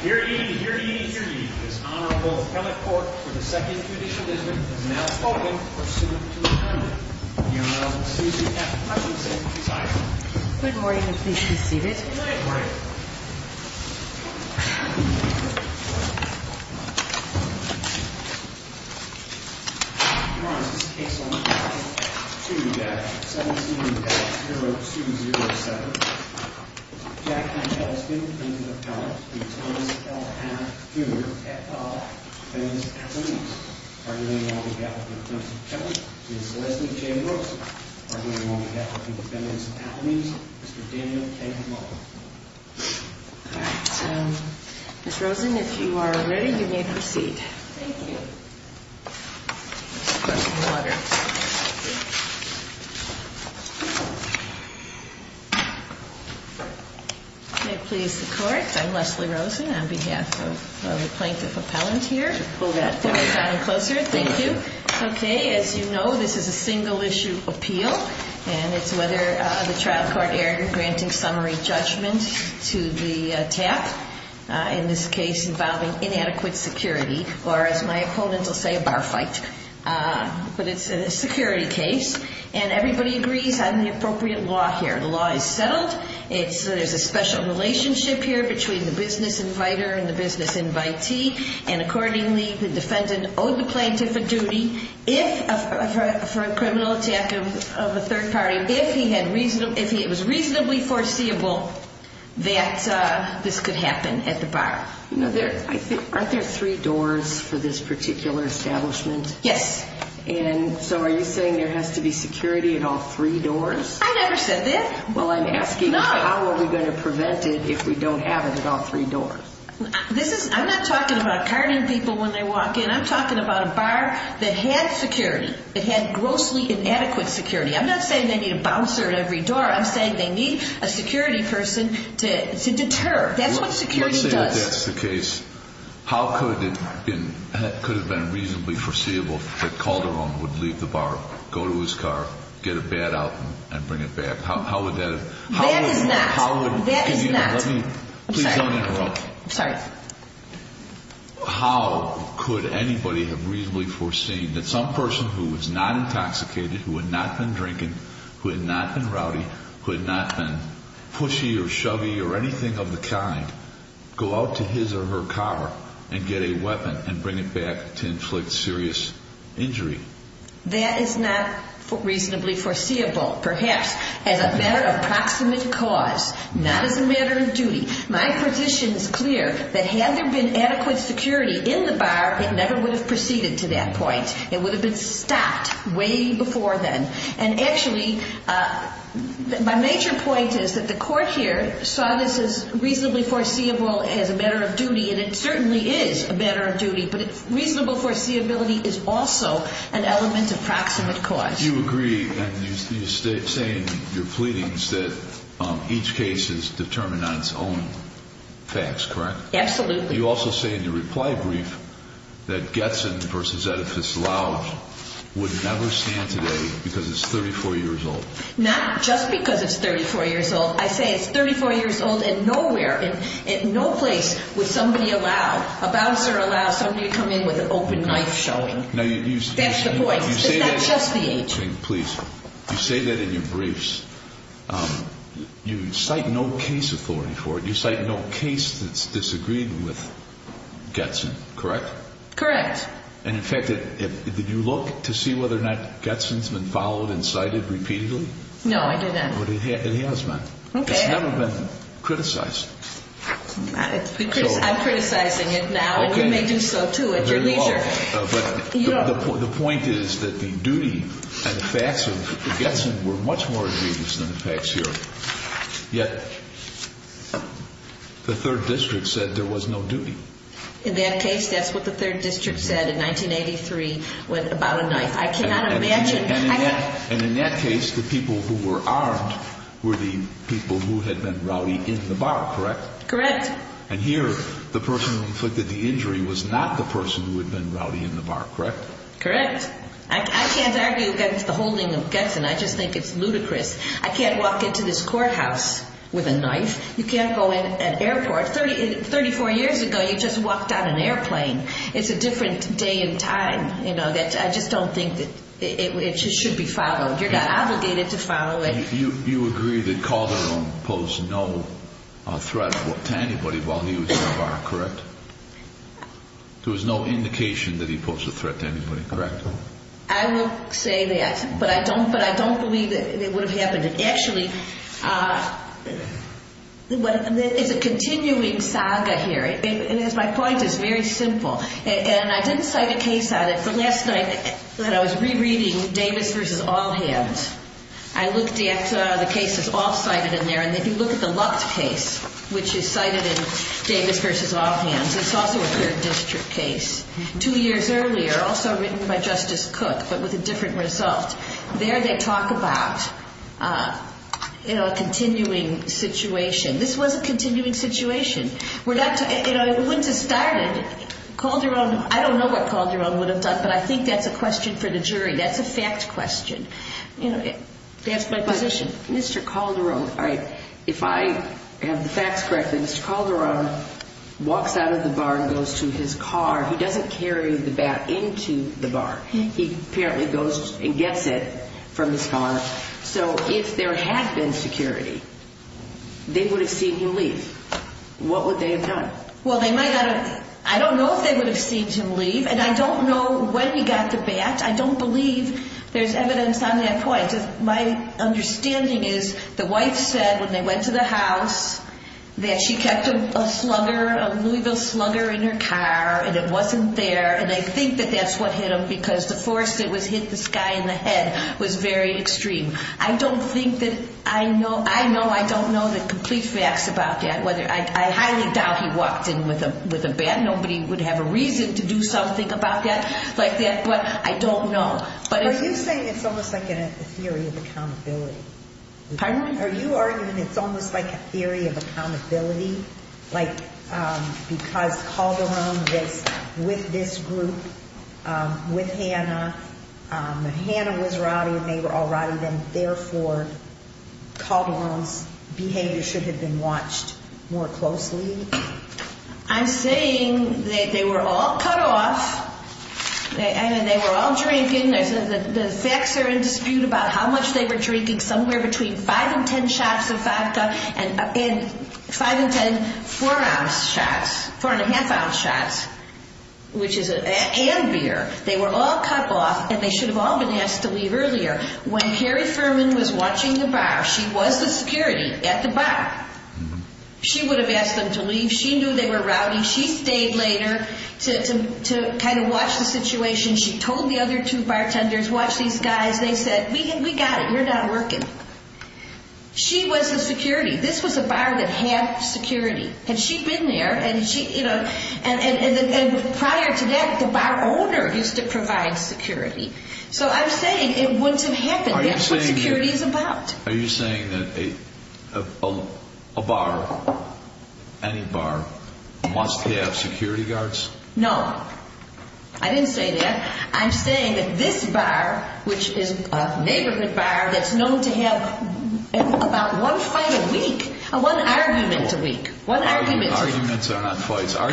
Here ye, here ye, here ye, this Honorable Appellate Court for the Second Judicial District has now spoken for suit to adjournment. The Honorable Susan F. Hutchinson is idle. Good morning and please be seated. Good morning. Your Honor, this case will now proceed to 17-0207. Jack H. Edlston, defendant appellate. E. Thomas L. Hannah, Jr., defendant's appellate. Arguing along the gap between the plaintiff's appealant, Ms. Leslie J. Rosen. Arguing along the gap between the defendant's appellate, Mr. Daniel K. Muller. All right. Ms. Rosen, if you are ready, you may proceed. Thank you. Question of the letter. May it please the Court. I'm Leslie Rosen on behalf of the plaintiff appellant here. Pull that down closer. Thank you. Okay. As you know, this is a single-issue appeal, and it's whether the trial court erred in granting summary judgment to the TAP. In this case, involving inadequate security, or as my opponent will say, a bar fight. But it's a security case, and everybody agrees on the appropriate law here. The law is settled. There's a special relationship here between the business inviter and the business invitee. And accordingly, the defendant owed the plaintiff a duty for a criminal attack of a third party, if it was reasonably foreseeable that this could happen at the bar. Aren't there three doors for this particular establishment? Yes. And so are you saying there has to be security at all three doors? I never said that. Well, I'm asking how are we going to prevent it if we don't have it at all three doors? I'm not talking about carding people when they walk in. I'm talking about a bar that had security, that had grossly inadequate security. I'm not saying they need a bouncer at every door. I'm saying they need a security person to deter. That's what security does. Let's say that that's the case. How could it have been reasonably foreseeable that Calderon would leave the bar, go to his car, get a bat out and bring it back? That is not. That is not. I'm sorry. Please don't interrupt. I'm sorry. How could anybody have reasonably foreseen that some person who was not intoxicated, who had not been drinking, who had not been rowdy, who had not been pushy or chubby or anything of the kind, go out to his or her car and get a weapon and bring it back to inflict serious injury? That is not reasonably foreseeable. Perhaps as a matter of proximate cause, not as a matter of duty. My position is clear that had there been adequate security in the bar, it never would have proceeded to that point. It would have been stopped way before then. And, actually, my major point is that the court here saw this as reasonably foreseeable as a matter of duty, and it certainly is a matter of duty, but reasonable foreseeability is also an element of proximate cause. You agree, and you say in your pleadings that each case is determined on its own facts, correct? Absolutely. You also say in your reply brief that Getson v. Edifice Lounge would never stand today because it's 34 years old. Not just because it's 34 years old. I say it's 34 years old and nowhere, in no place would somebody allow, a bouncer allow somebody to come in with an open knife showing. That's the point. It's not just the age. Please. You say that in your briefs. You cite no case authority for it. You cite no case that's disagreed with Getson, correct? Correct. And, in fact, did you look to see whether or not Getson's been followed and cited repeatedly? No, I did not. But it has been. Okay. It's never been criticized. I'm criticizing it now, and you may do so, too, at your leisure. But the point is that the duty and the facts of Getson were much more egregious than the facts here, yet the 3rd District said there was no duty. In that case, that's what the 3rd District said in 1983 about a knife. I cannot imagine. And in that case, the people who were armed were the people who had been rowdy in the bar, correct? Correct. And here the person who inflicted the injury was not the person who had been rowdy in the bar, correct? Correct. I can't argue against the holding of Getson. I just think it's ludicrous. I can't walk into this courthouse with a knife. You can't go in an airport. Thirty-four years ago, you just walked on an airplane. It's a different day and time. I just don't think that it should be followed. You're not obligated to follow it. You agree that Calderon posed no threat to anybody while he was in the bar, correct? There was no indication that he posed a threat to anybody, correct? I will say that, but I don't believe that it would have happened. Actually, it's a continuing saga here, and as my point, it's very simple. And I didn't cite a case on it, but last night when I was rereading Davis v. All Hands, I looked at the cases all cited in there, and if you look at the Lucht case, which is cited in Davis v. All Hands, it's also a third district case, two years earlier, also written by Justice Cook, but with a different result. There they talk about a continuing situation. This was a continuing situation. It wouldn't have started. I don't know what Calderon would have done, but I think that's a question for the jury. That's a fact question. That's my position. Mr. Calderon, if I have the facts correct, Mr. Calderon walks out of the bar and goes to his car. He doesn't carry the bat into the bar. He apparently goes and gets it from his car. So if there had been security, they would have seen him leave. What would they have done? Well, I don't know if they would have seen him leave, and I don't know when he got the bat. I don't believe there's evidence on that point. My understanding is the wife said when they went to the house that she kept a slugger, a Louisville slugger in her car, and it wasn't there, and I think that that's what hit him because the force that hit this guy in the head was very extreme. I don't think that I know. I know I don't know the complete facts about that. I highly doubt he walked in with a bat. Nobody would have a reason to do something about that like that, but I don't know. Are you saying it's almost like a theory of accountability? Are you arguing it's almost like a theory of accountability? Like because Calderon was with this group, with Hannah, and Hannah was rowdy and they were all rowdy, then therefore Calderon's behavior should have been watched more closely? I'm saying that they were all cut off, and they were all drinking. The facts are in dispute about how much they were drinking, somewhere between five and ten shots of vodka and five and ten four-ounce shots, four-and-a-half-ounce shots and beer. They were all cut off, and they should have all been asked to leave earlier. When Harry Furman was watching the bar, she was the security at the bar. She would have asked them to leave. She knew they were rowdy. She stayed later to kind of watch the situation. She told the other two bartenders, watch these guys. They said, we got it. You're not working. She was the security. This was a bar that had security, and she'd been there. And prior to that, the bar owner used to provide security. So I'm saying it wouldn't have happened. That's what security is about. Are you saying that a bar, any bar, must have security guards? No. I didn't say that. I'm saying that this bar, which is a neighborhood bar that's known to have about one fight a week, one argument a week, one argument. Arguments are not fights. Correct.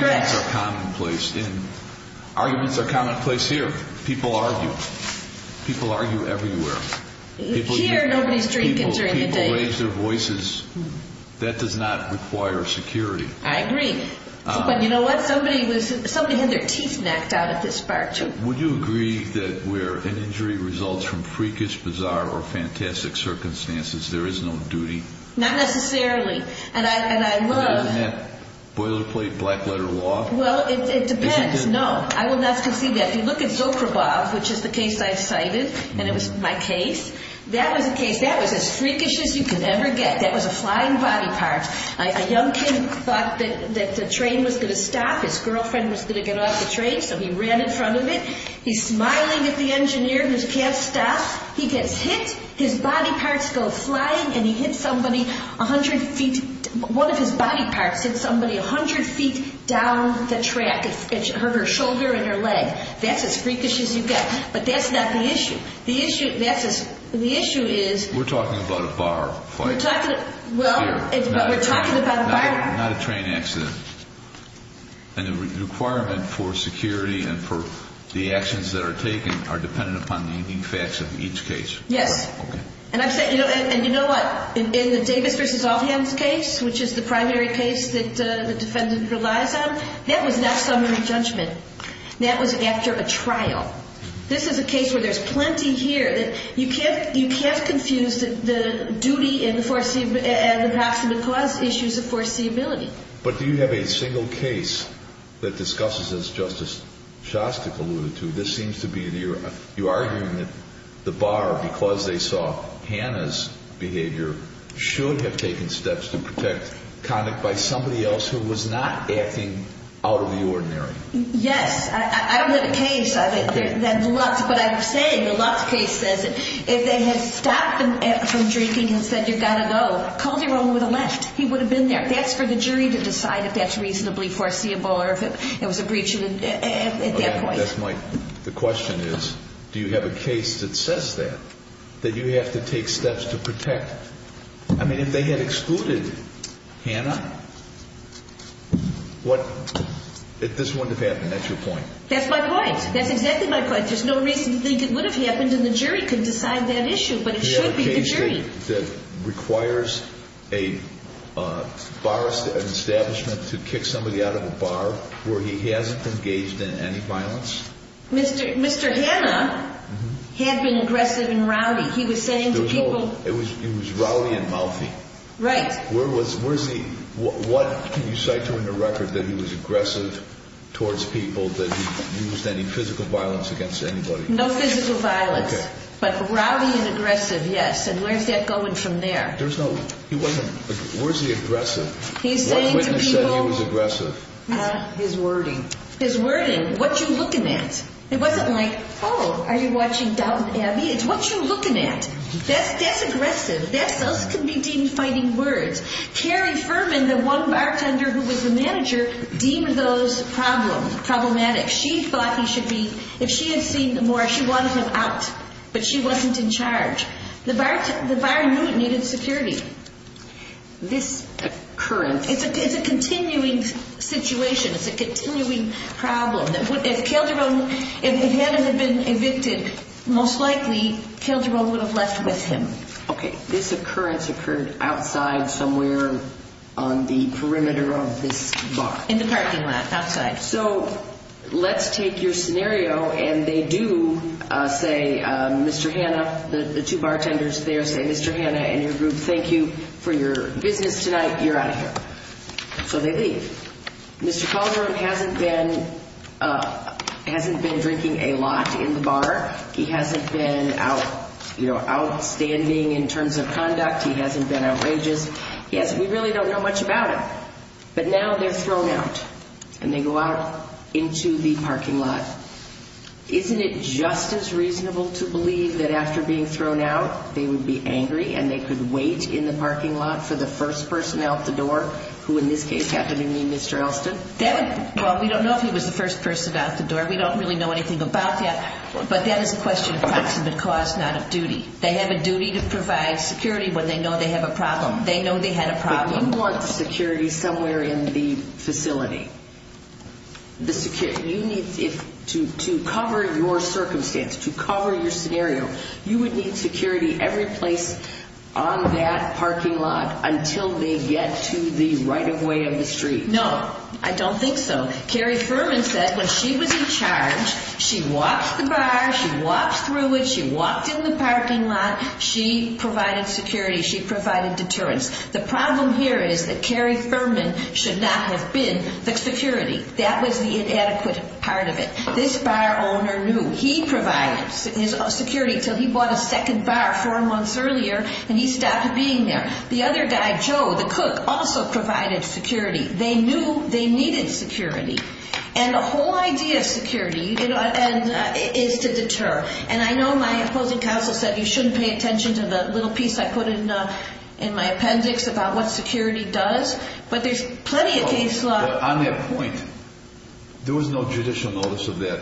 Arguments are commonplace here. People argue. People argue everywhere. Here, nobody's drinking during the day. People raise their voices. That does not require security. I agree. But you know what? Somebody had their teeth knocked out at this bar, too. Would you agree that where an injury results from freakish, bizarre, or fantastic circumstances, there is no duty? Not necessarily. And I would. Isn't that boilerplate, black-letter law? Well, it depends. Isn't it? No. I would not concede that. If you look at Zoprebov, which is the case I cited, and it was my case, that was a case that was as freakish as you could ever get. That was a flying body part. A young kid thought that the train was going to stop. His girlfriend was going to get off the train, so he ran in front of it. He's smiling at the engineer who can't stop. He gets hit. His body parts go flying, and he hits somebody 100 feet. One of his body parts hit somebody 100 feet down the track, her shoulder and her leg. That's as freakish as you get. But that's not the issue. The issue is we're talking about a bar fight. Well, we're talking about a bar fight. Not a train accident. And the requirement for security and for the actions that are taken are dependent upon the facts of each case. Yes. Okay. And you know what? In the Davis v. Allhans case, which is the primary case that the defendant relies on, that was not summary judgment. That was after a trial. This is a case where there's plenty here. You can't confuse the duty and the approximate cause issues of foreseeability. But do you have a single case that discusses, as Justice Shostak alluded to, this seems to be the argument, the bar, because they saw Hannah's behavior, should have taken steps to protect conduct by somebody else who was not acting out of the ordinary. Yes. I don't have a case. But I'm saying the Lutz case says if they had stopped him from drinking and said, you've got to go, called him over to the left, he would have been there. That's for the jury to decide if that's reasonably foreseeable or if it was a breach at that point. The question is, do you have a case that says that, that you have to take steps to protect? I mean, if they had excluded Hannah, this wouldn't have happened. That's your point. That's my point. That's exactly my point. There's no reason to think it would have happened and the jury could decide that issue, but it should be the jury. Do you have a case that requires a bar establishment to kick somebody out of a bar where he hasn't engaged in any violence? Mr. Hannah had been aggressive and rowdy. He was saying to people. He was rowdy and mouthy. Right. Where was he? What can you cite to in the record that he was aggressive towards people, that he used any physical violence against anybody? No physical violence, but rowdy and aggressive, yes. And where's that going from there? There's no. He wasn't. Where's the aggressive? He's saying to people. What made him say he was aggressive? His wording. His wording. What you looking at? It wasn't like, oh, are you watching Downton Abbey? It's what you looking at. That's aggressive. Those can be deemed fighting words. Carrie Furman, the one bartender who was the manager, deemed those problematic. She thought he should be, if she had seen more, she wanted him out, but she wasn't in charge. The bar knew it needed security. This occurrence. It's a continuing situation. It's a continuing problem. If Hannah had been evicted, most likely Calderon would have left with him. Okay. This occurrence occurred outside somewhere on the perimeter of this bar. In the parking lot, outside. Let's take your scenario, and they do say, Mr. Hannah, the two bartenders there say, Mr. Hannah and your group, thank you for your business tonight. You're out of here. So they leave. Mr. Calderon hasn't been drinking a lot in the bar. He hasn't been outstanding in terms of conduct. He hasn't been outrageous. We really don't know much about him. But now they're thrown out. And they go out into the parking lot. Isn't it just as reasonable to believe that after being thrown out they would be angry and they could wait in the parking lot for the first person out the door, who in this case happened to be Mr. Elston? Well, we don't know if he was the first person out the door. We don't really know anything about that. But that is a question of approximate cost, not of duty. They have a duty to provide security when they know they have a problem. They know they had a problem. You want security somewhere in the facility. To cover your circumstance, to cover your scenario, you would need security every place on that parking lot until they get to the right-of-way of the street. No, I don't think so. Carrie Furman said when she was in charge, she walked the bar, she walked through it, she walked in the parking lot, she provided security, she provided deterrence. The problem here is that Carrie Furman should not have been the security. That was the inadequate part of it. This bar owner knew. He provided security until he bought a second bar four months earlier, and he stopped being there. The other guy, Joe, the cook, also provided security. They knew they needed security. And the whole idea of security is to deter. And I know my opposing counsel said you shouldn't pay attention to the little piece I put in my appendix about what security does, but there's plenty of case law. On that point, there was no judicial notice of that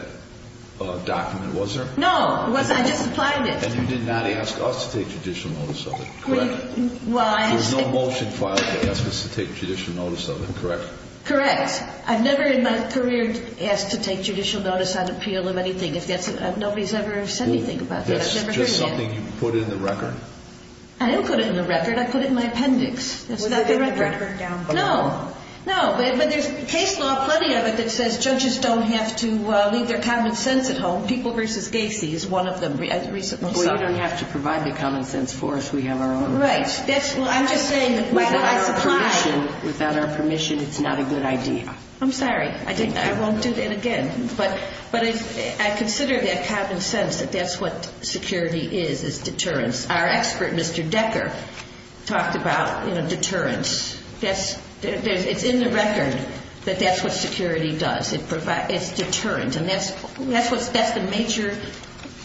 document, was there? No, it wasn't. I just applied it. And you did not ask us to take judicial notice of it, correct? There was no motion filed to ask us to take judicial notice of it, correct? Correct. I've never in my career asked to take judicial notice on appeal of anything. Nobody's ever said anything about that. Is that just something you put in the record? I didn't put it in the record. I put it in my appendix. That's not the record. Was it in the record down below? No, but there's case law, plenty of it, that says judges don't have to leave their common sense at home. People v. Gacy is one of them. Well, you don't have to provide the common sense for us. We have our own rights. Right. I'm just saying that without our permission, it's not a good idea. I'm sorry. I won't do that again. But I consider that common sense that that's what security is, is deterrence. Our expert, Mr. Decker, talked about, you know, deterrence. It's in the record that that's what security does. It's deterrent. And that's the major,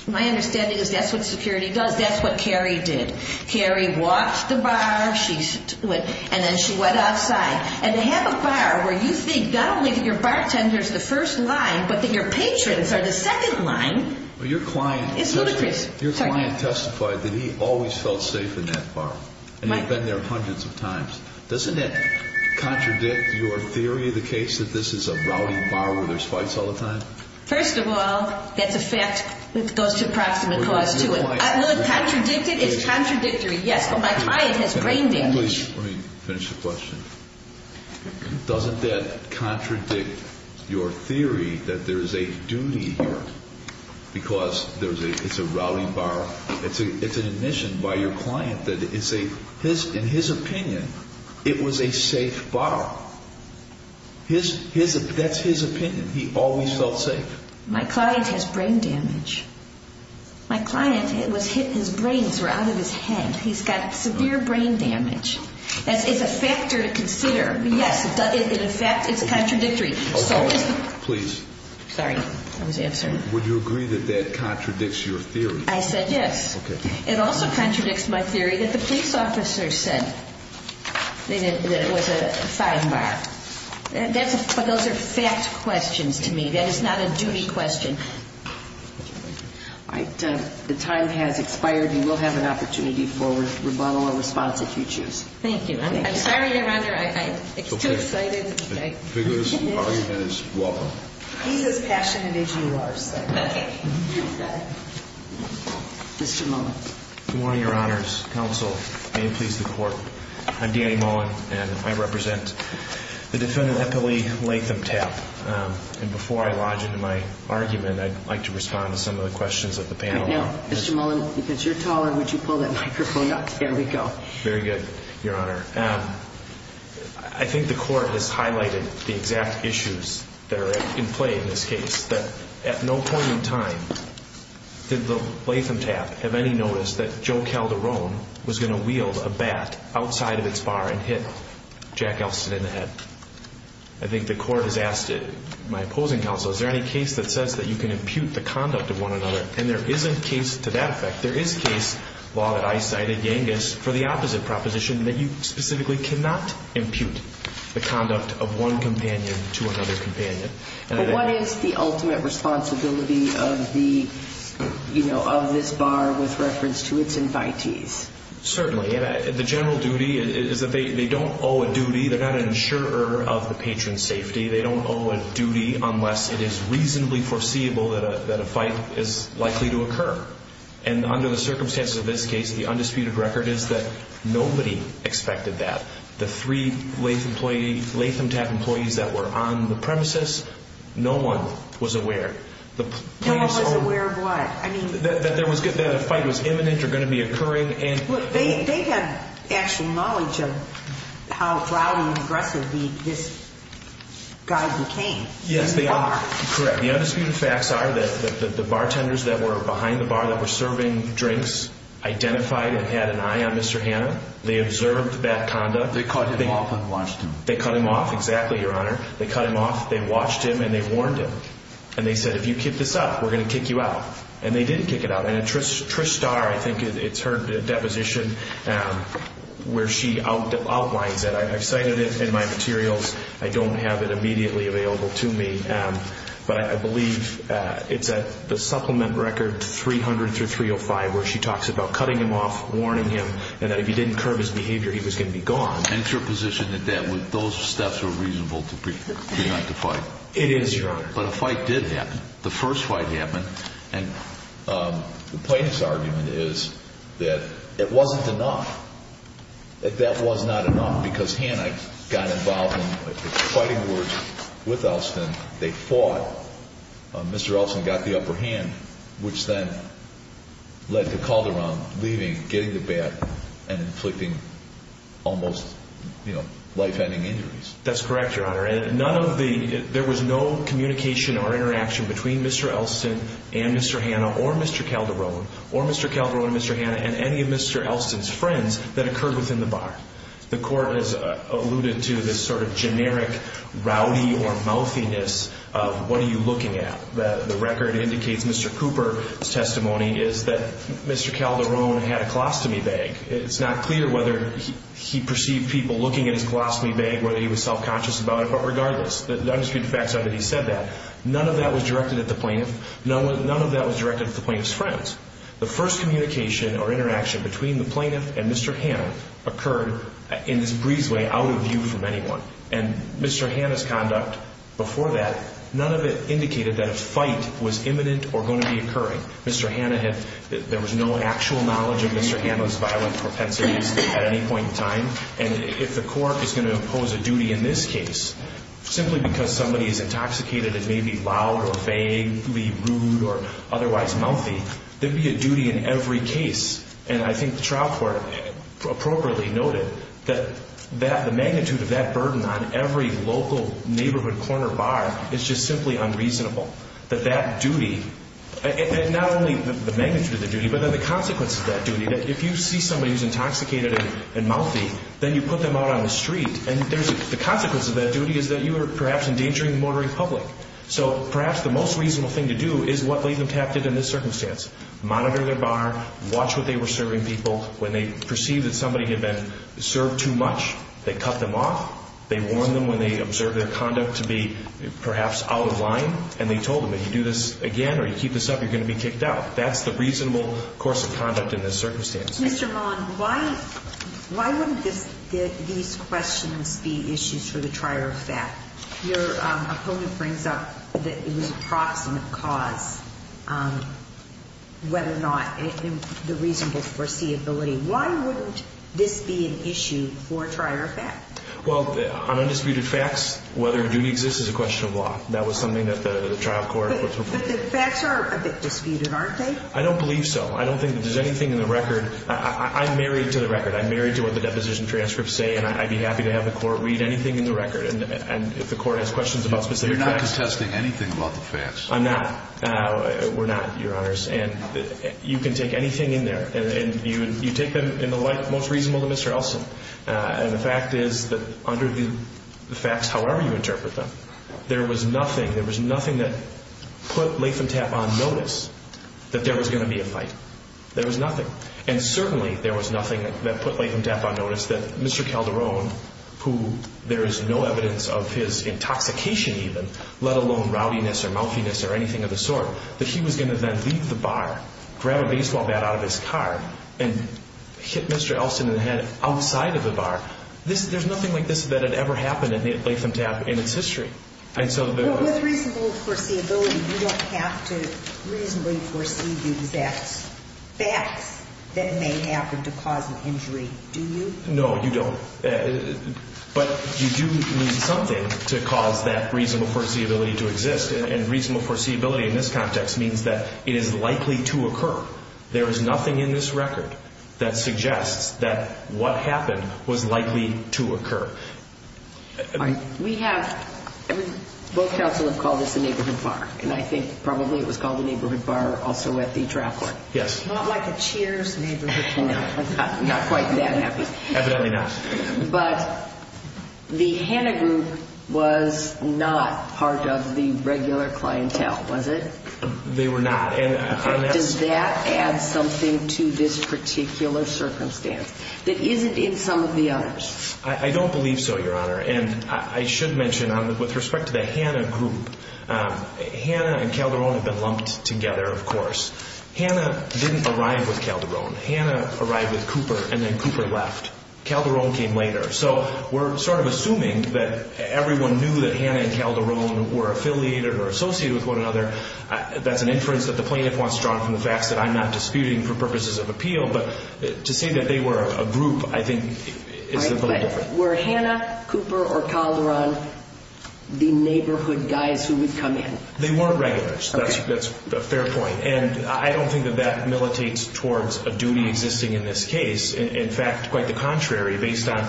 my understanding is that's what security does. That's what Carrie did. Carrie walked the bar, and then she went outside. And to have a bar where you think not only that your bartender is the first line, but that your patrons are the second line is ludicrous. Your client testified that he always felt safe in that bar, and he'd been there hundreds of times. Doesn't that contradict your theory of the case, that this is a rowdy bar where there's fights all the time? First of all, that's a fact that goes to proximate cause, too. No, contradicted is contradictory. Yes, but my client has brain damage. Let me finish the question. Doesn't that contradict your theory that there is a duty here because it's a rowdy bar? It's an admission by your client that in his opinion it was a safe bar. That's his opinion. He always felt safe. My client has brain damage. My client, his brains were out of his head. He's got severe brain damage. It's a factor to consider. Yes, in effect it's contradictory. Okay. Please. Sorry. I was answering. Would you agree that that contradicts your theory? I said yes. Okay. It also contradicts my theory that the police officer said that it was a fine bar. But those are fact questions to me. That is not a duty question. All right. The time has expired. You will have an opportunity for rebuttal or response if you choose. Thank you. I'm sorry, Your Honor. I'm too excited. Okay. The argument is welcome. He's as passionate as you are, sir. Okay. Okay. Mr. Mullen. Good morning, Your Honors. Counsel. May it please the Court. I'm Danny Mullen, and I represent the defendant Eppley Latham Tapp. And before I lodge into my argument, I'd like to respond to some of the questions of the panel. Mr. Mullen, because you're taller, would you pull that microphone up? There we go. Very good, Your Honor. I think the Court has highlighted the exact issues that are in play in this case, that at no point in time did the Latham Tapp have any notice that Joe Calderon was going to wield a bat outside of its bar and hit Jack Elston in the head. I think the Court has asked it. My opposing counsel, is there any case that says that you can impute the conduct of one another and there isn't case to that effect. There is case law that I cited, Yangus, for the opposite proposition, that you specifically cannot impute the conduct of one companion to another companion. But what is the ultimate responsibility of this bar with reference to its invitees? Certainly. The general duty is that they don't owe a duty. They're not an insurer of the patron's safety. They don't owe a duty unless it is reasonably foreseeable that a fight is likely to occur. And under the circumstances of this case, the undisputed record is that nobody expected that. The three Latham Tapp employees that were on the premises, no one was aware. No one was aware of what? That a fight was imminent or going to be occurring. They had actual knowledge of how loud and aggressive this guy became. Yes, they are. Correct. The undisputed facts are that the bartenders that were behind the bar that were serving drinks identified and had an eye on Mr. Hanna. They observed bad conduct. They cut him off and watched him. They cut him off. Exactly, Your Honor. They cut him off, they watched him, and they warned him. And they said, if you kick this up, we're going to kick you out. And they didn't kick it out. And Trish Starr, I think it's her deposition where she outlines it. I've cited it in my materials. I don't have it immediately available to me. But I believe it's at the supplement record 300 through 305 where she talks about cutting him off, warning him, and that if he didn't curb his behavior, he was going to be gone. And your position is that those steps were reasonable to prevent the fight? It is, Your Honor. But a fight did happen. The first fight happened. And the plaintiff's argument is that it wasn't enough, that that was not enough, because Hanna got involved in fighting words with Elston. They fought. Mr. Elston got the upper hand, which then led to Calderon leaving, getting the bat, and inflicting almost, you know, life-ending injuries. That's correct, Your Honor. There was no communication or interaction between Mr. Elston and Mr. Hanna or Mr. Calderon or Mr. Calderon and Mr. Hanna and any of Mr. Elston's friends that occurred within the bar. The court has alluded to this sort of generic rowdy or mouthiness of what are you looking at. The record indicates Mr. Cooper's testimony is that Mr. Calderon had a colostomy bag. It's not clear whether he perceived people looking at his colostomy bag, whether he was self-conscious about it. But regardless, the undisputed facts are that he said that. None of that was directed at the plaintiff. None of that was directed at the plaintiff's friends. The first communication or interaction between the plaintiff and Mr. Hanna occurred in this breezeway, out of view from anyone, and Mr. Hanna's conduct before that, none of it indicated that a fight was imminent or going to be occurring. There was no actual knowledge of Mr. Hanna's violent propensities at any point in time. And if the court is going to impose a duty in this case, simply because somebody is intoxicated and maybe loud or vaguely rude or otherwise mouthy, there would be a duty in every case. And I think the trial court appropriately noted that the magnitude of that burden on every local neighborhood corner bar is just simply unreasonable, that that duty and not only the magnitude of the duty, but then the consequence of that duty, that if you see somebody who's intoxicated and mouthy, then you put them out on the street. And the consequence of that duty is that you are perhaps endangering the motoring public. So perhaps the most reasonable thing to do is what Latham Tapp did in this circumstance, monitor their bar, watch what they were serving people. When they perceived that somebody had been served too much, they cut them off. They warned them when they observed their conduct to be perhaps out of line, and they told them if you do this again or you keep this up, you're going to be kicked out. That's the reasonable course of conduct in this circumstance. Mr. Maughan, why wouldn't these questions be issues for the trier of fact? Your opponent brings up that it was a proximate cause, whether or not the reasonable foreseeability. Why wouldn't this be an issue for a trier of fact? Well, on undisputed facts, whether a duty exists is a question of law. That was something that the trial court was referring to. But the facts are a bit disputed, aren't they? I don't believe so. I don't think that there's anything in the record. I'm married to the record. I'm married to what the deposition transcripts say, and I'd be happy to have the court read anything in the record. And if the court has questions about specific facts. You're not contesting anything about the facts. I'm not. We're not, Your Honors. And you can take anything in there. And you take them in the light most reasonable to Mr. Elson. And the fact is that under the facts, however you interpret them, there was nothing that put Latham Tapp on notice that there was going to be a fight. There was nothing. And certainly there was nothing that put Latham Tapp on notice that Mr. Calderon, who there is no evidence of his intoxication even, let alone rowdiness or mouthiness or anything of the sort, that he was going to then leave the bar, grab a baseball bat out of his car, and hit Mr. Elson in the head outside of the bar. There's nothing like this that had ever happened at Latham Tapp in its history. With reasonable foreseeability, you don't have to reasonably foresee the exact facts that may happen to cause an injury, do you? No, you don't. But you do need something to cause that reasonable foreseeability to exist. And reasonable foreseeability in this context means that it is likely to occur. There is nothing in this record that suggests that what happened was likely to occur. We have, both counsel have called this a neighborhood bar, and I think probably it was called a neighborhood bar also at the trial court. Yes. Not like a Cheers neighborhood bar. No, not quite that happy. Evidently not. But the Hanna Group was not part of the regular clientele, was it? They were not. Does that add something to this particular circumstance that isn't in some of the others? I don't believe so, Your Honor. And I should mention, with respect to the Hanna Group, Hanna and Calderon have been lumped together, of course. Hanna didn't arrive with Calderon. Hanna arrived with Cooper, and then Cooper left. Calderon came later. So we're sort of assuming that everyone knew that Hanna and Calderon were affiliated or associated with one another. That's an inference that the plaintiff wants drawn from the facts that I'm not disputing for purposes of appeal. But to say that they were a group, I think, is a little different. Were Hanna, Cooper, or Calderon the neighborhood guys who would come in? They weren't regulars. That's a fair point. And I don't think that that militates towards a duty existing in this case. In fact, quite the contrary. Based on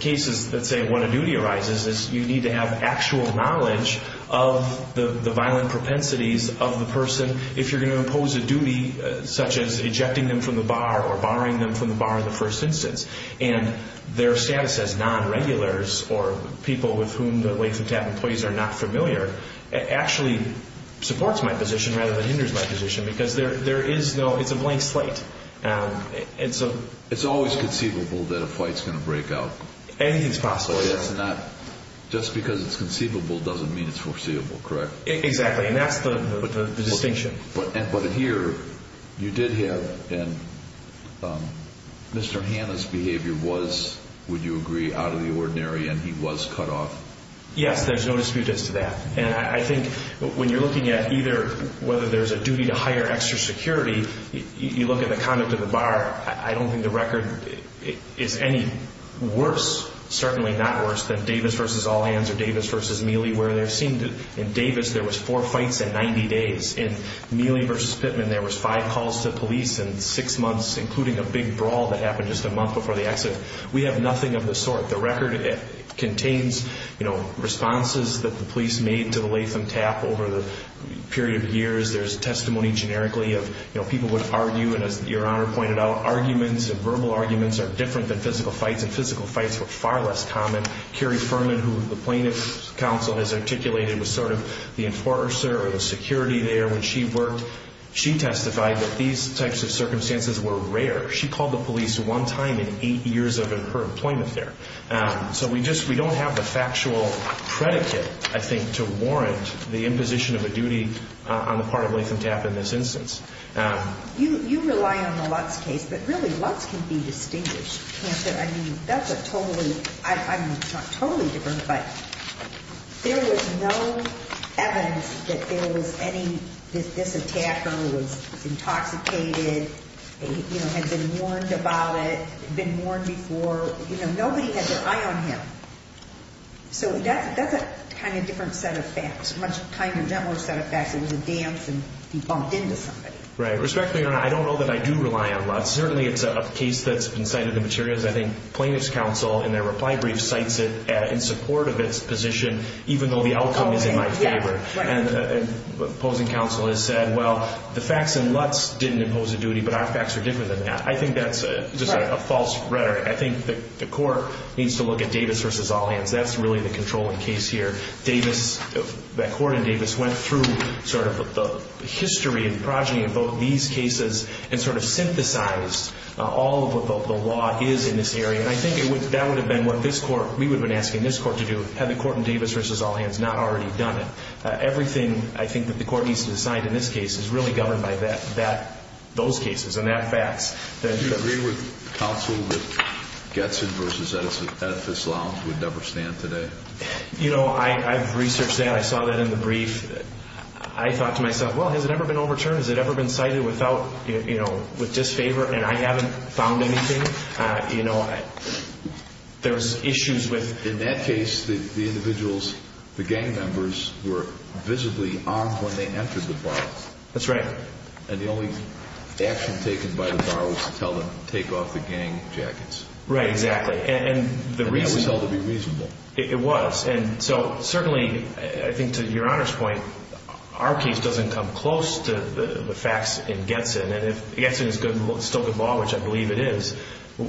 cases that say when a duty arises, you need to have actual knowledge of the violent propensities of the person if you're going to impose a duty such as ejecting them from the bar or barring them from the bar in the first instance. And their status as non-regulars or people with whom the length of time employees are not familiar actually supports my position rather than hinders my position because it's a blank slate. It's always conceivable that a fight is going to break out. Anything is possible. Just because it's conceivable doesn't mean it's foreseeable, correct? Exactly. And that's the distinction. But here you did have Mr. Hanna's behavior was, would you agree, out of the ordinary and he was cut off? Yes, there's no dispute as to that. And I think when you're looking at either whether there's a duty to hire extra security, you look at the conduct of the bar, I don't think the record is any worse, certainly not worse, than Davis v. All Hands or Davis v. Mealy where there seemed to, in Davis there was four fights in 90 days. In Mealy v. Pittman there was five calls to police in six months, including a big brawl that happened just a month before the accident. We have nothing of the sort. The record contains, you know, responses that the police made to the Latham Tap over the period of years. There's testimony generically of, you know, people would argue, and as Your Honor pointed out, arguments and verbal arguments are different than physical fights, and physical fights were far less common. Carrie Furman, who the plaintiff's counsel has articulated was sort of the enforcer or the security there when she worked, she testified that these types of circumstances were rare. She called the police one time in eight years of her employment there. So we don't have the factual predicate, I think, to warrant the imposition of a duty on the part of Latham Tap in this instance. You rely on the Lutz case, but really Lutz can be distinguished, can't there? I mean, that's a totally, I mean, it's not totally different, but there was no evidence that there was any, that this attacker was intoxicated, you know, had been warned about it, been warned before. You know, nobody had their eye on him. So that's a kind of different set of facts, much kinder, gentler set of facts. It was a dance and he bumped into somebody. Right. Respectfully, Your Honor, I don't know that I do rely on Lutz. Certainly it's a case that's been cited in the materials. I think plaintiff's counsel in their reply brief cites it in support of its position, even though the outcome is in my favor. And opposing counsel has said, well, the facts in Lutz didn't impose a duty, but our facts are different than that. I think that's just a false rhetoric. I think the court needs to look at Davis v. Allhands. That's really the controlling case here. Davis, that court in Davis went through sort of the history and progeny of both these cases and sort of synthesized all of what the law is in this area. And I think that would have been what this court, we would have been asking this court to do had the court in Davis v. Allhands not already done it. Everything I think that the court needs to decide in this case is really governed by that, those cases and that facts. Do you agree with counsel that Getson v. Edifice Law would never stand today? You know, I've researched that. I saw that in the brief. I thought to myself, well, has it ever been overturned? Has it ever been cited without, you know, with disfavor, and I haven't found anything. You know, there's issues with... In that case, the individuals, the gang members were visibly armed when they entered the bar. That's right. And the only action taken by the bar was to tell them to take off the gang jackets. Right, exactly. And that was held to be reasonable. It was. And so certainly, I think to Your Honor's point, our case doesn't come close to the facts in Getson. And if Getson is still good law, which I believe it is,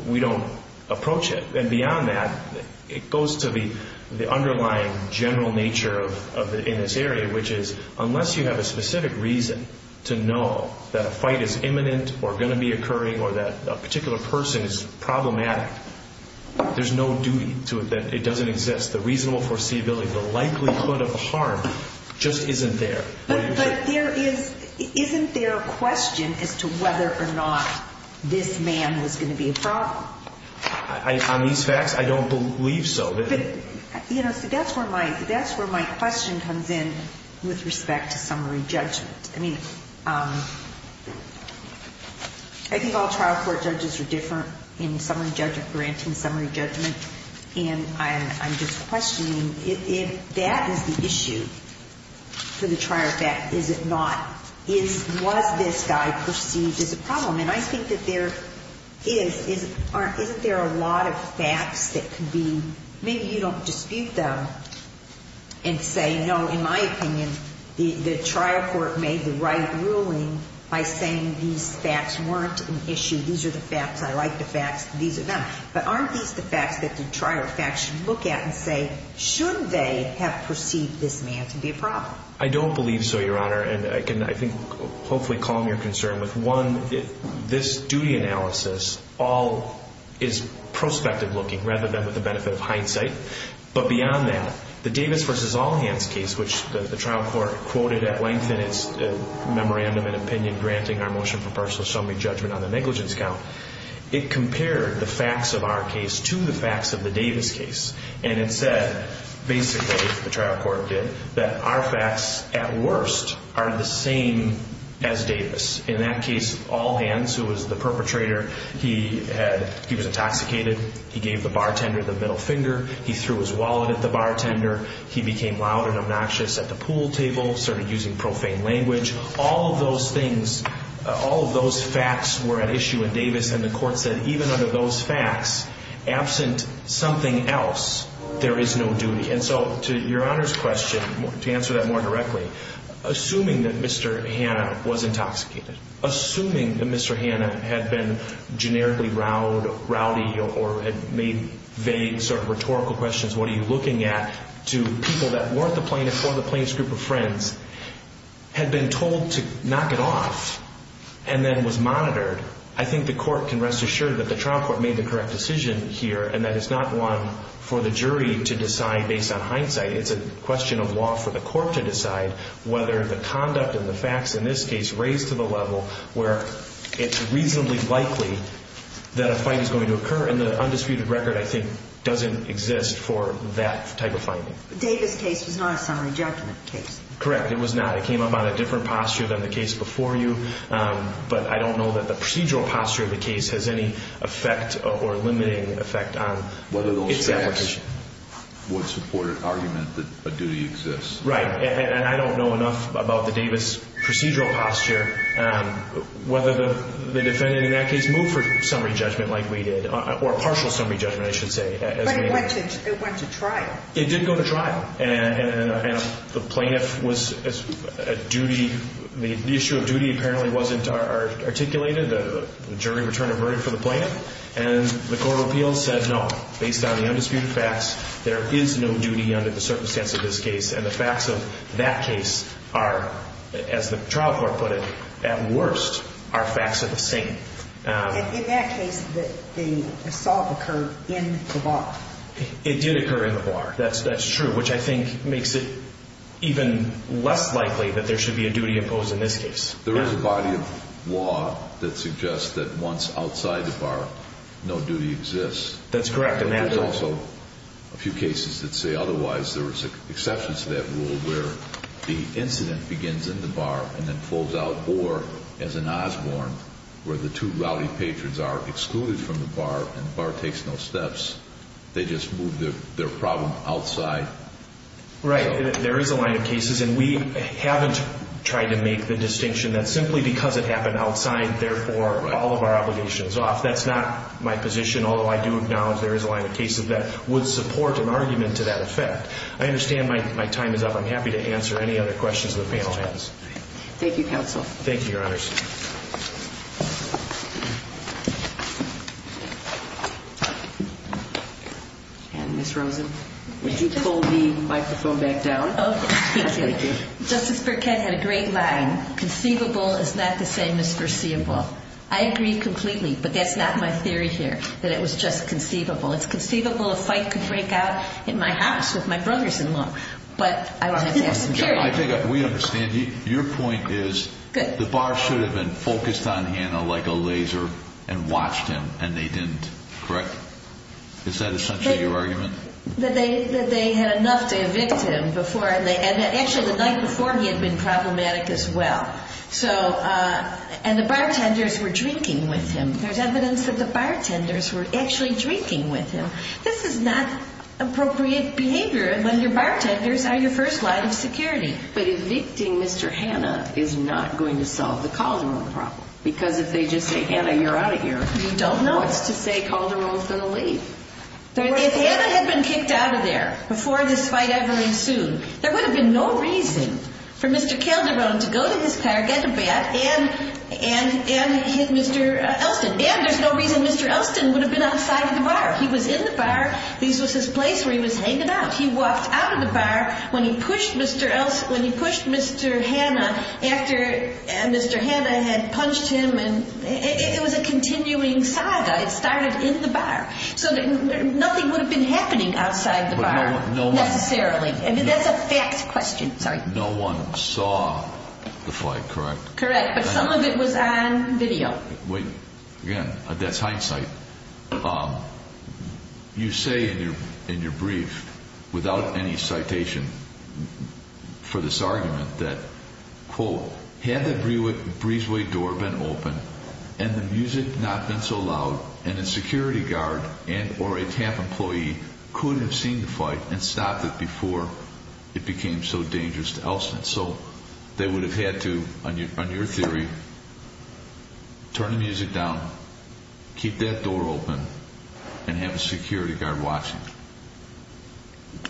we don't approach it. And beyond that, it goes to the underlying general nature in this area, which is unless you have a specific reason to know that a fight is imminent or going to be occurring or that a particular person is problematic, there's no duty to it that it doesn't exist. The reasonable foreseeability, the likelihood of harm just isn't there. But isn't there a question as to whether or not this man was going to be a problem? On these facts, I don't believe so. You know, so that's where my question comes in with respect to summary judgment. I mean, I think all trial court judges are different in summary judgment, granting summary judgment. And I'm just questioning if that is the issue for the trial fact. Is it not? Was this guy perceived as a problem? And I think that there is. Isn't there a lot of facts that could be maybe you don't dispute them and say, no, in my opinion, the trial court made the right ruling by saying these facts weren't an issue. These are the facts. I like the facts. These are them. But aren't these the facts that the trial fact should look at and say, should they have perceived this man to be a problem? I don't believe so, Your Honor. And I can, I think, hopefully calm your concern with, one, this duty analysis all is prospective looking rather than with the benefit of hindsight. But beyond that, the Davis v. Allhans case, which the trial court quoted at length in its memorandum and opinion granting our motion for personal summary judgment on the negligence count, it compared the facts of our case to the facts of the Davis case. And it said basically, the trial court did, that our facts at worst are the same as Davis. In that case, Allhans, who was the perpetrator, he was intoxicated. He gave the bartender the middle finger. He threw his wallet at the bartender. He became loud and obnoxious at the pool table, started using profane language. All of those things, all of those facts were at issue in Davis, and the court said, even under those facts, absent something else, there is no duty. And so to Your Honor's question, to answer that more directly, assuming that Mr. Hanna was intoxicated, assuming that Mr. Hanna had been generically rowdy or had made vague sort of rhetorical questions, what are you looking at, to people that weren't the plaintiff or the plaintiff's group of friends, had been told to knock it off and then was monitored, I think the court can rest assured that the trial court made the correct decision here and that it's not one for the jury to decide based on hindsight. It's a question of law for the court to decide whether the conduct and the facts in this case raise to the level where it's reasonably likely that a fight is going to occur, and the undisputed record, I think, doesn't exist for that type of finding. Davis case was not a summary judgment case. Correct, it was not. It came up on a different posture than the case before you, but I don't know that the procedural posture of the case has any effect or limiting effect on its application. Whether those facts would support an argument that a duty exists. Right, and I don't know enough about the Davis procedural posture, whether the defendant in that case moved for summary judgment like we did, or partial summary judgment, I should say. But it went to trial. It did go to trial, and the plaintiff was at duty. The issue of duty apparently wasn't articulated. The jury returned a verdict for the plaintiff, and the court of appeals said, no, based on the undisputed facts, there is no duty under the circumstance of this case, and the facts of that case are, as the trial court put it, at worst, are facts of the same. In that case, the assault occurred in the bar. It did occur in the bar, that's true, which I think makes it even less likely that there should be a duty imposed in this case. There is a body of law that suggests that once outside the bar, no duty exists. That's correct. There's also a few cases that say otherwise. There is exceptions to that rule where the incident begins in the bar and then flows out, or as in Osborne, where the two rowdy patrons are excluded from the bar and the bar takes no steps. They just move their problem outside. Right, there is a line of cases, and we haven't tried to make the distinction that simply because it happened outside, therefore, all of our obligation is off. That's not my position, although I do acknowledge there is a line of cases that would support an argument to that effect. I understand my time is up. I'm happy to answer any other questions the panel has. Thank you, counsel. Thank you, Your Honors. Ms. Rosen, would you pull the microphone back down? Okay. Thank you. Justice Burkett had a great line, conceivable is not the same as foreseeable. I agree completely, but that's not my theory here, that it was just conceivable. It's conceivable a fight could break out in my house with my brother-in-law, but I don't have to have security. We understand. Your point is the bar should have been focused on Hannah like a laser and watched him, and they didn't. Correct? Is that essentially your argument? That they had enough to evict him, and actually the night before he had been problematic as well. And the bartenders were drinking with him. There's evidence that the bartenders were actually drinking with him. This is not appropriate behavior when your bartenders are your first line of security. But evicting Mr. Hannah is not going to solve the Calderon problem, because if they just say, Hannah, you're out of here, who wants to say Calderon is going to leave? If Hannah had been kicked out of there before this fight ever ensued, there would have been no reason for Mr. Calderon to go to his car, get a bat, and hit Mr. Elston. And there's no reason Mr. Elston would have been outside of the bar. He was in the bar. This was his place where he was hanging out. He walked out of the bar when he pushed Mr. Hannah after Mr. Hannah had punched him. It was a continuing saga. It started in the bar. So nothing would have been happening outside the bar necessarily. I mean, that's a fact question. No one saw the fight, correct? Correct. But some of it was on video. Again, that's hindsight. You say in your brief without any citation for this argument that, quote, had the breezeway door been open and the music not been so loud, and a security guard and or a TAP employee could have seen the fight and stopped it before it became so dangerous to Elston. So they would have had to, on your theory, turn the music down, keep that door open, and have a security guard watching.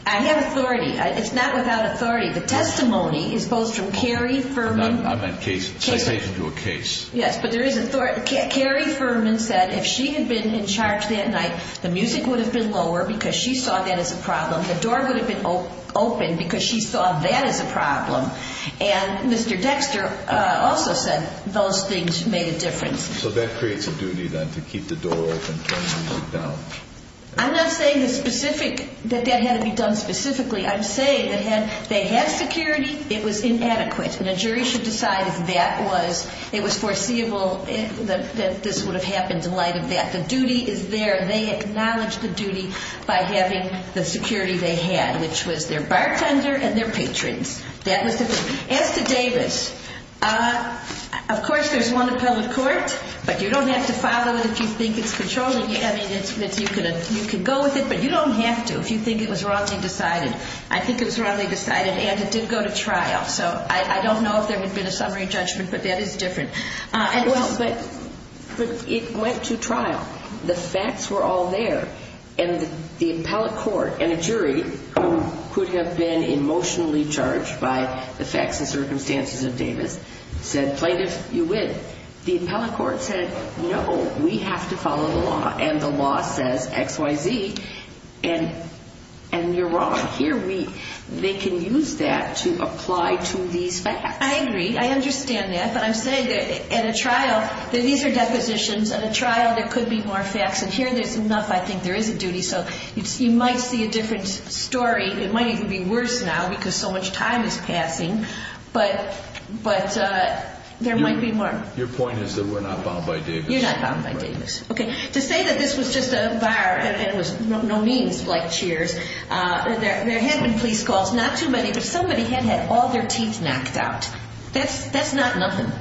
I have authority. It's not without authority. The testimony is both from Carrie Furman. I meant citation to a case. Yes, but there is authority. Carrie Furman said if she had been in charge that night, the music would have been lower because she saw that as a problem. The door would have been open because she saw that as a problem. And Mr. Dexter also said those things made a difference. So that creates a duty then to keep the door open, turn the music down. I'm not saying that that had to be done specifically. I'm saying that had they had security, it was inadequate, and a jury should decide if that was foreseeable, that this would have happened in light of that. The duty is there. They acknowledged the duty by having the security they had, which was their bartender and their patrons. As to Davis, of course there's one appellate court, but you don't have to follow it if you think it's controlling you. I mean, you can go with it, but you don't have to if you think it was wrongly decided. I think it was wrongly decided, and it did go to trial. So I don't know if there would have been a summary judgment, but that is different. Well, but it went to trial. The facts were all there, and the appellate court and a jury who could have been emotionally charged by the facts and circumstances of Davis said plaintiff, you win. The appellate court said, no, we have to follow the law, and the law says X, Y, Z, and you're wrong. Here they can use that to apply to these facts. I agree. I understand that, but I'm saying that at a trial, these are depositions. At a trial there could be more facts, and here there's enough. I think there is a duty, so you might see a different story. It might even be worse now because so much time is passing, but there might be more. Your point is that we're not bound by Davis. You're not bound by Davis. To say that this was just a bar and it was no means like Cheers, there had been police calls, not too many, but somebody had had all their teeth knocked out. That's not nothing.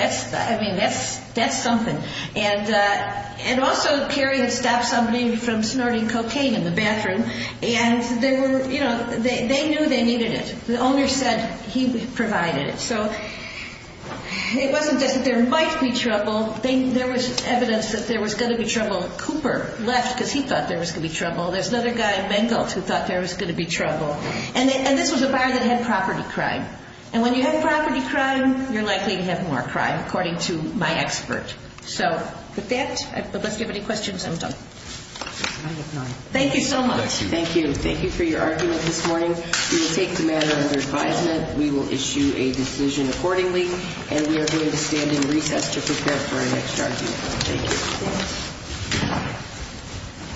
I mean, that's something. And also Kerry had stopped somebody from snorting cocaine in the bathroom, and they knew they needed it. The owner said he provided it. So it wasn't just that there might be trouble. There was evidence that there was going to be trouble. Cooper left because he thought there was going to be trouble. There's another guy, Mengelt, who thought there was going to be trouble. And this was a bar that had property crime. And when you have property crime, you're likely to have more crime, according to my expert. So with that, unless you have any questions, I'm done. Thank you so much. Thank you. Thank you for your argument this morning. We will take the matter under advisement. We will issue a decision accordingly, and we are going to stand in recess to prepare for our next argument. Thank you.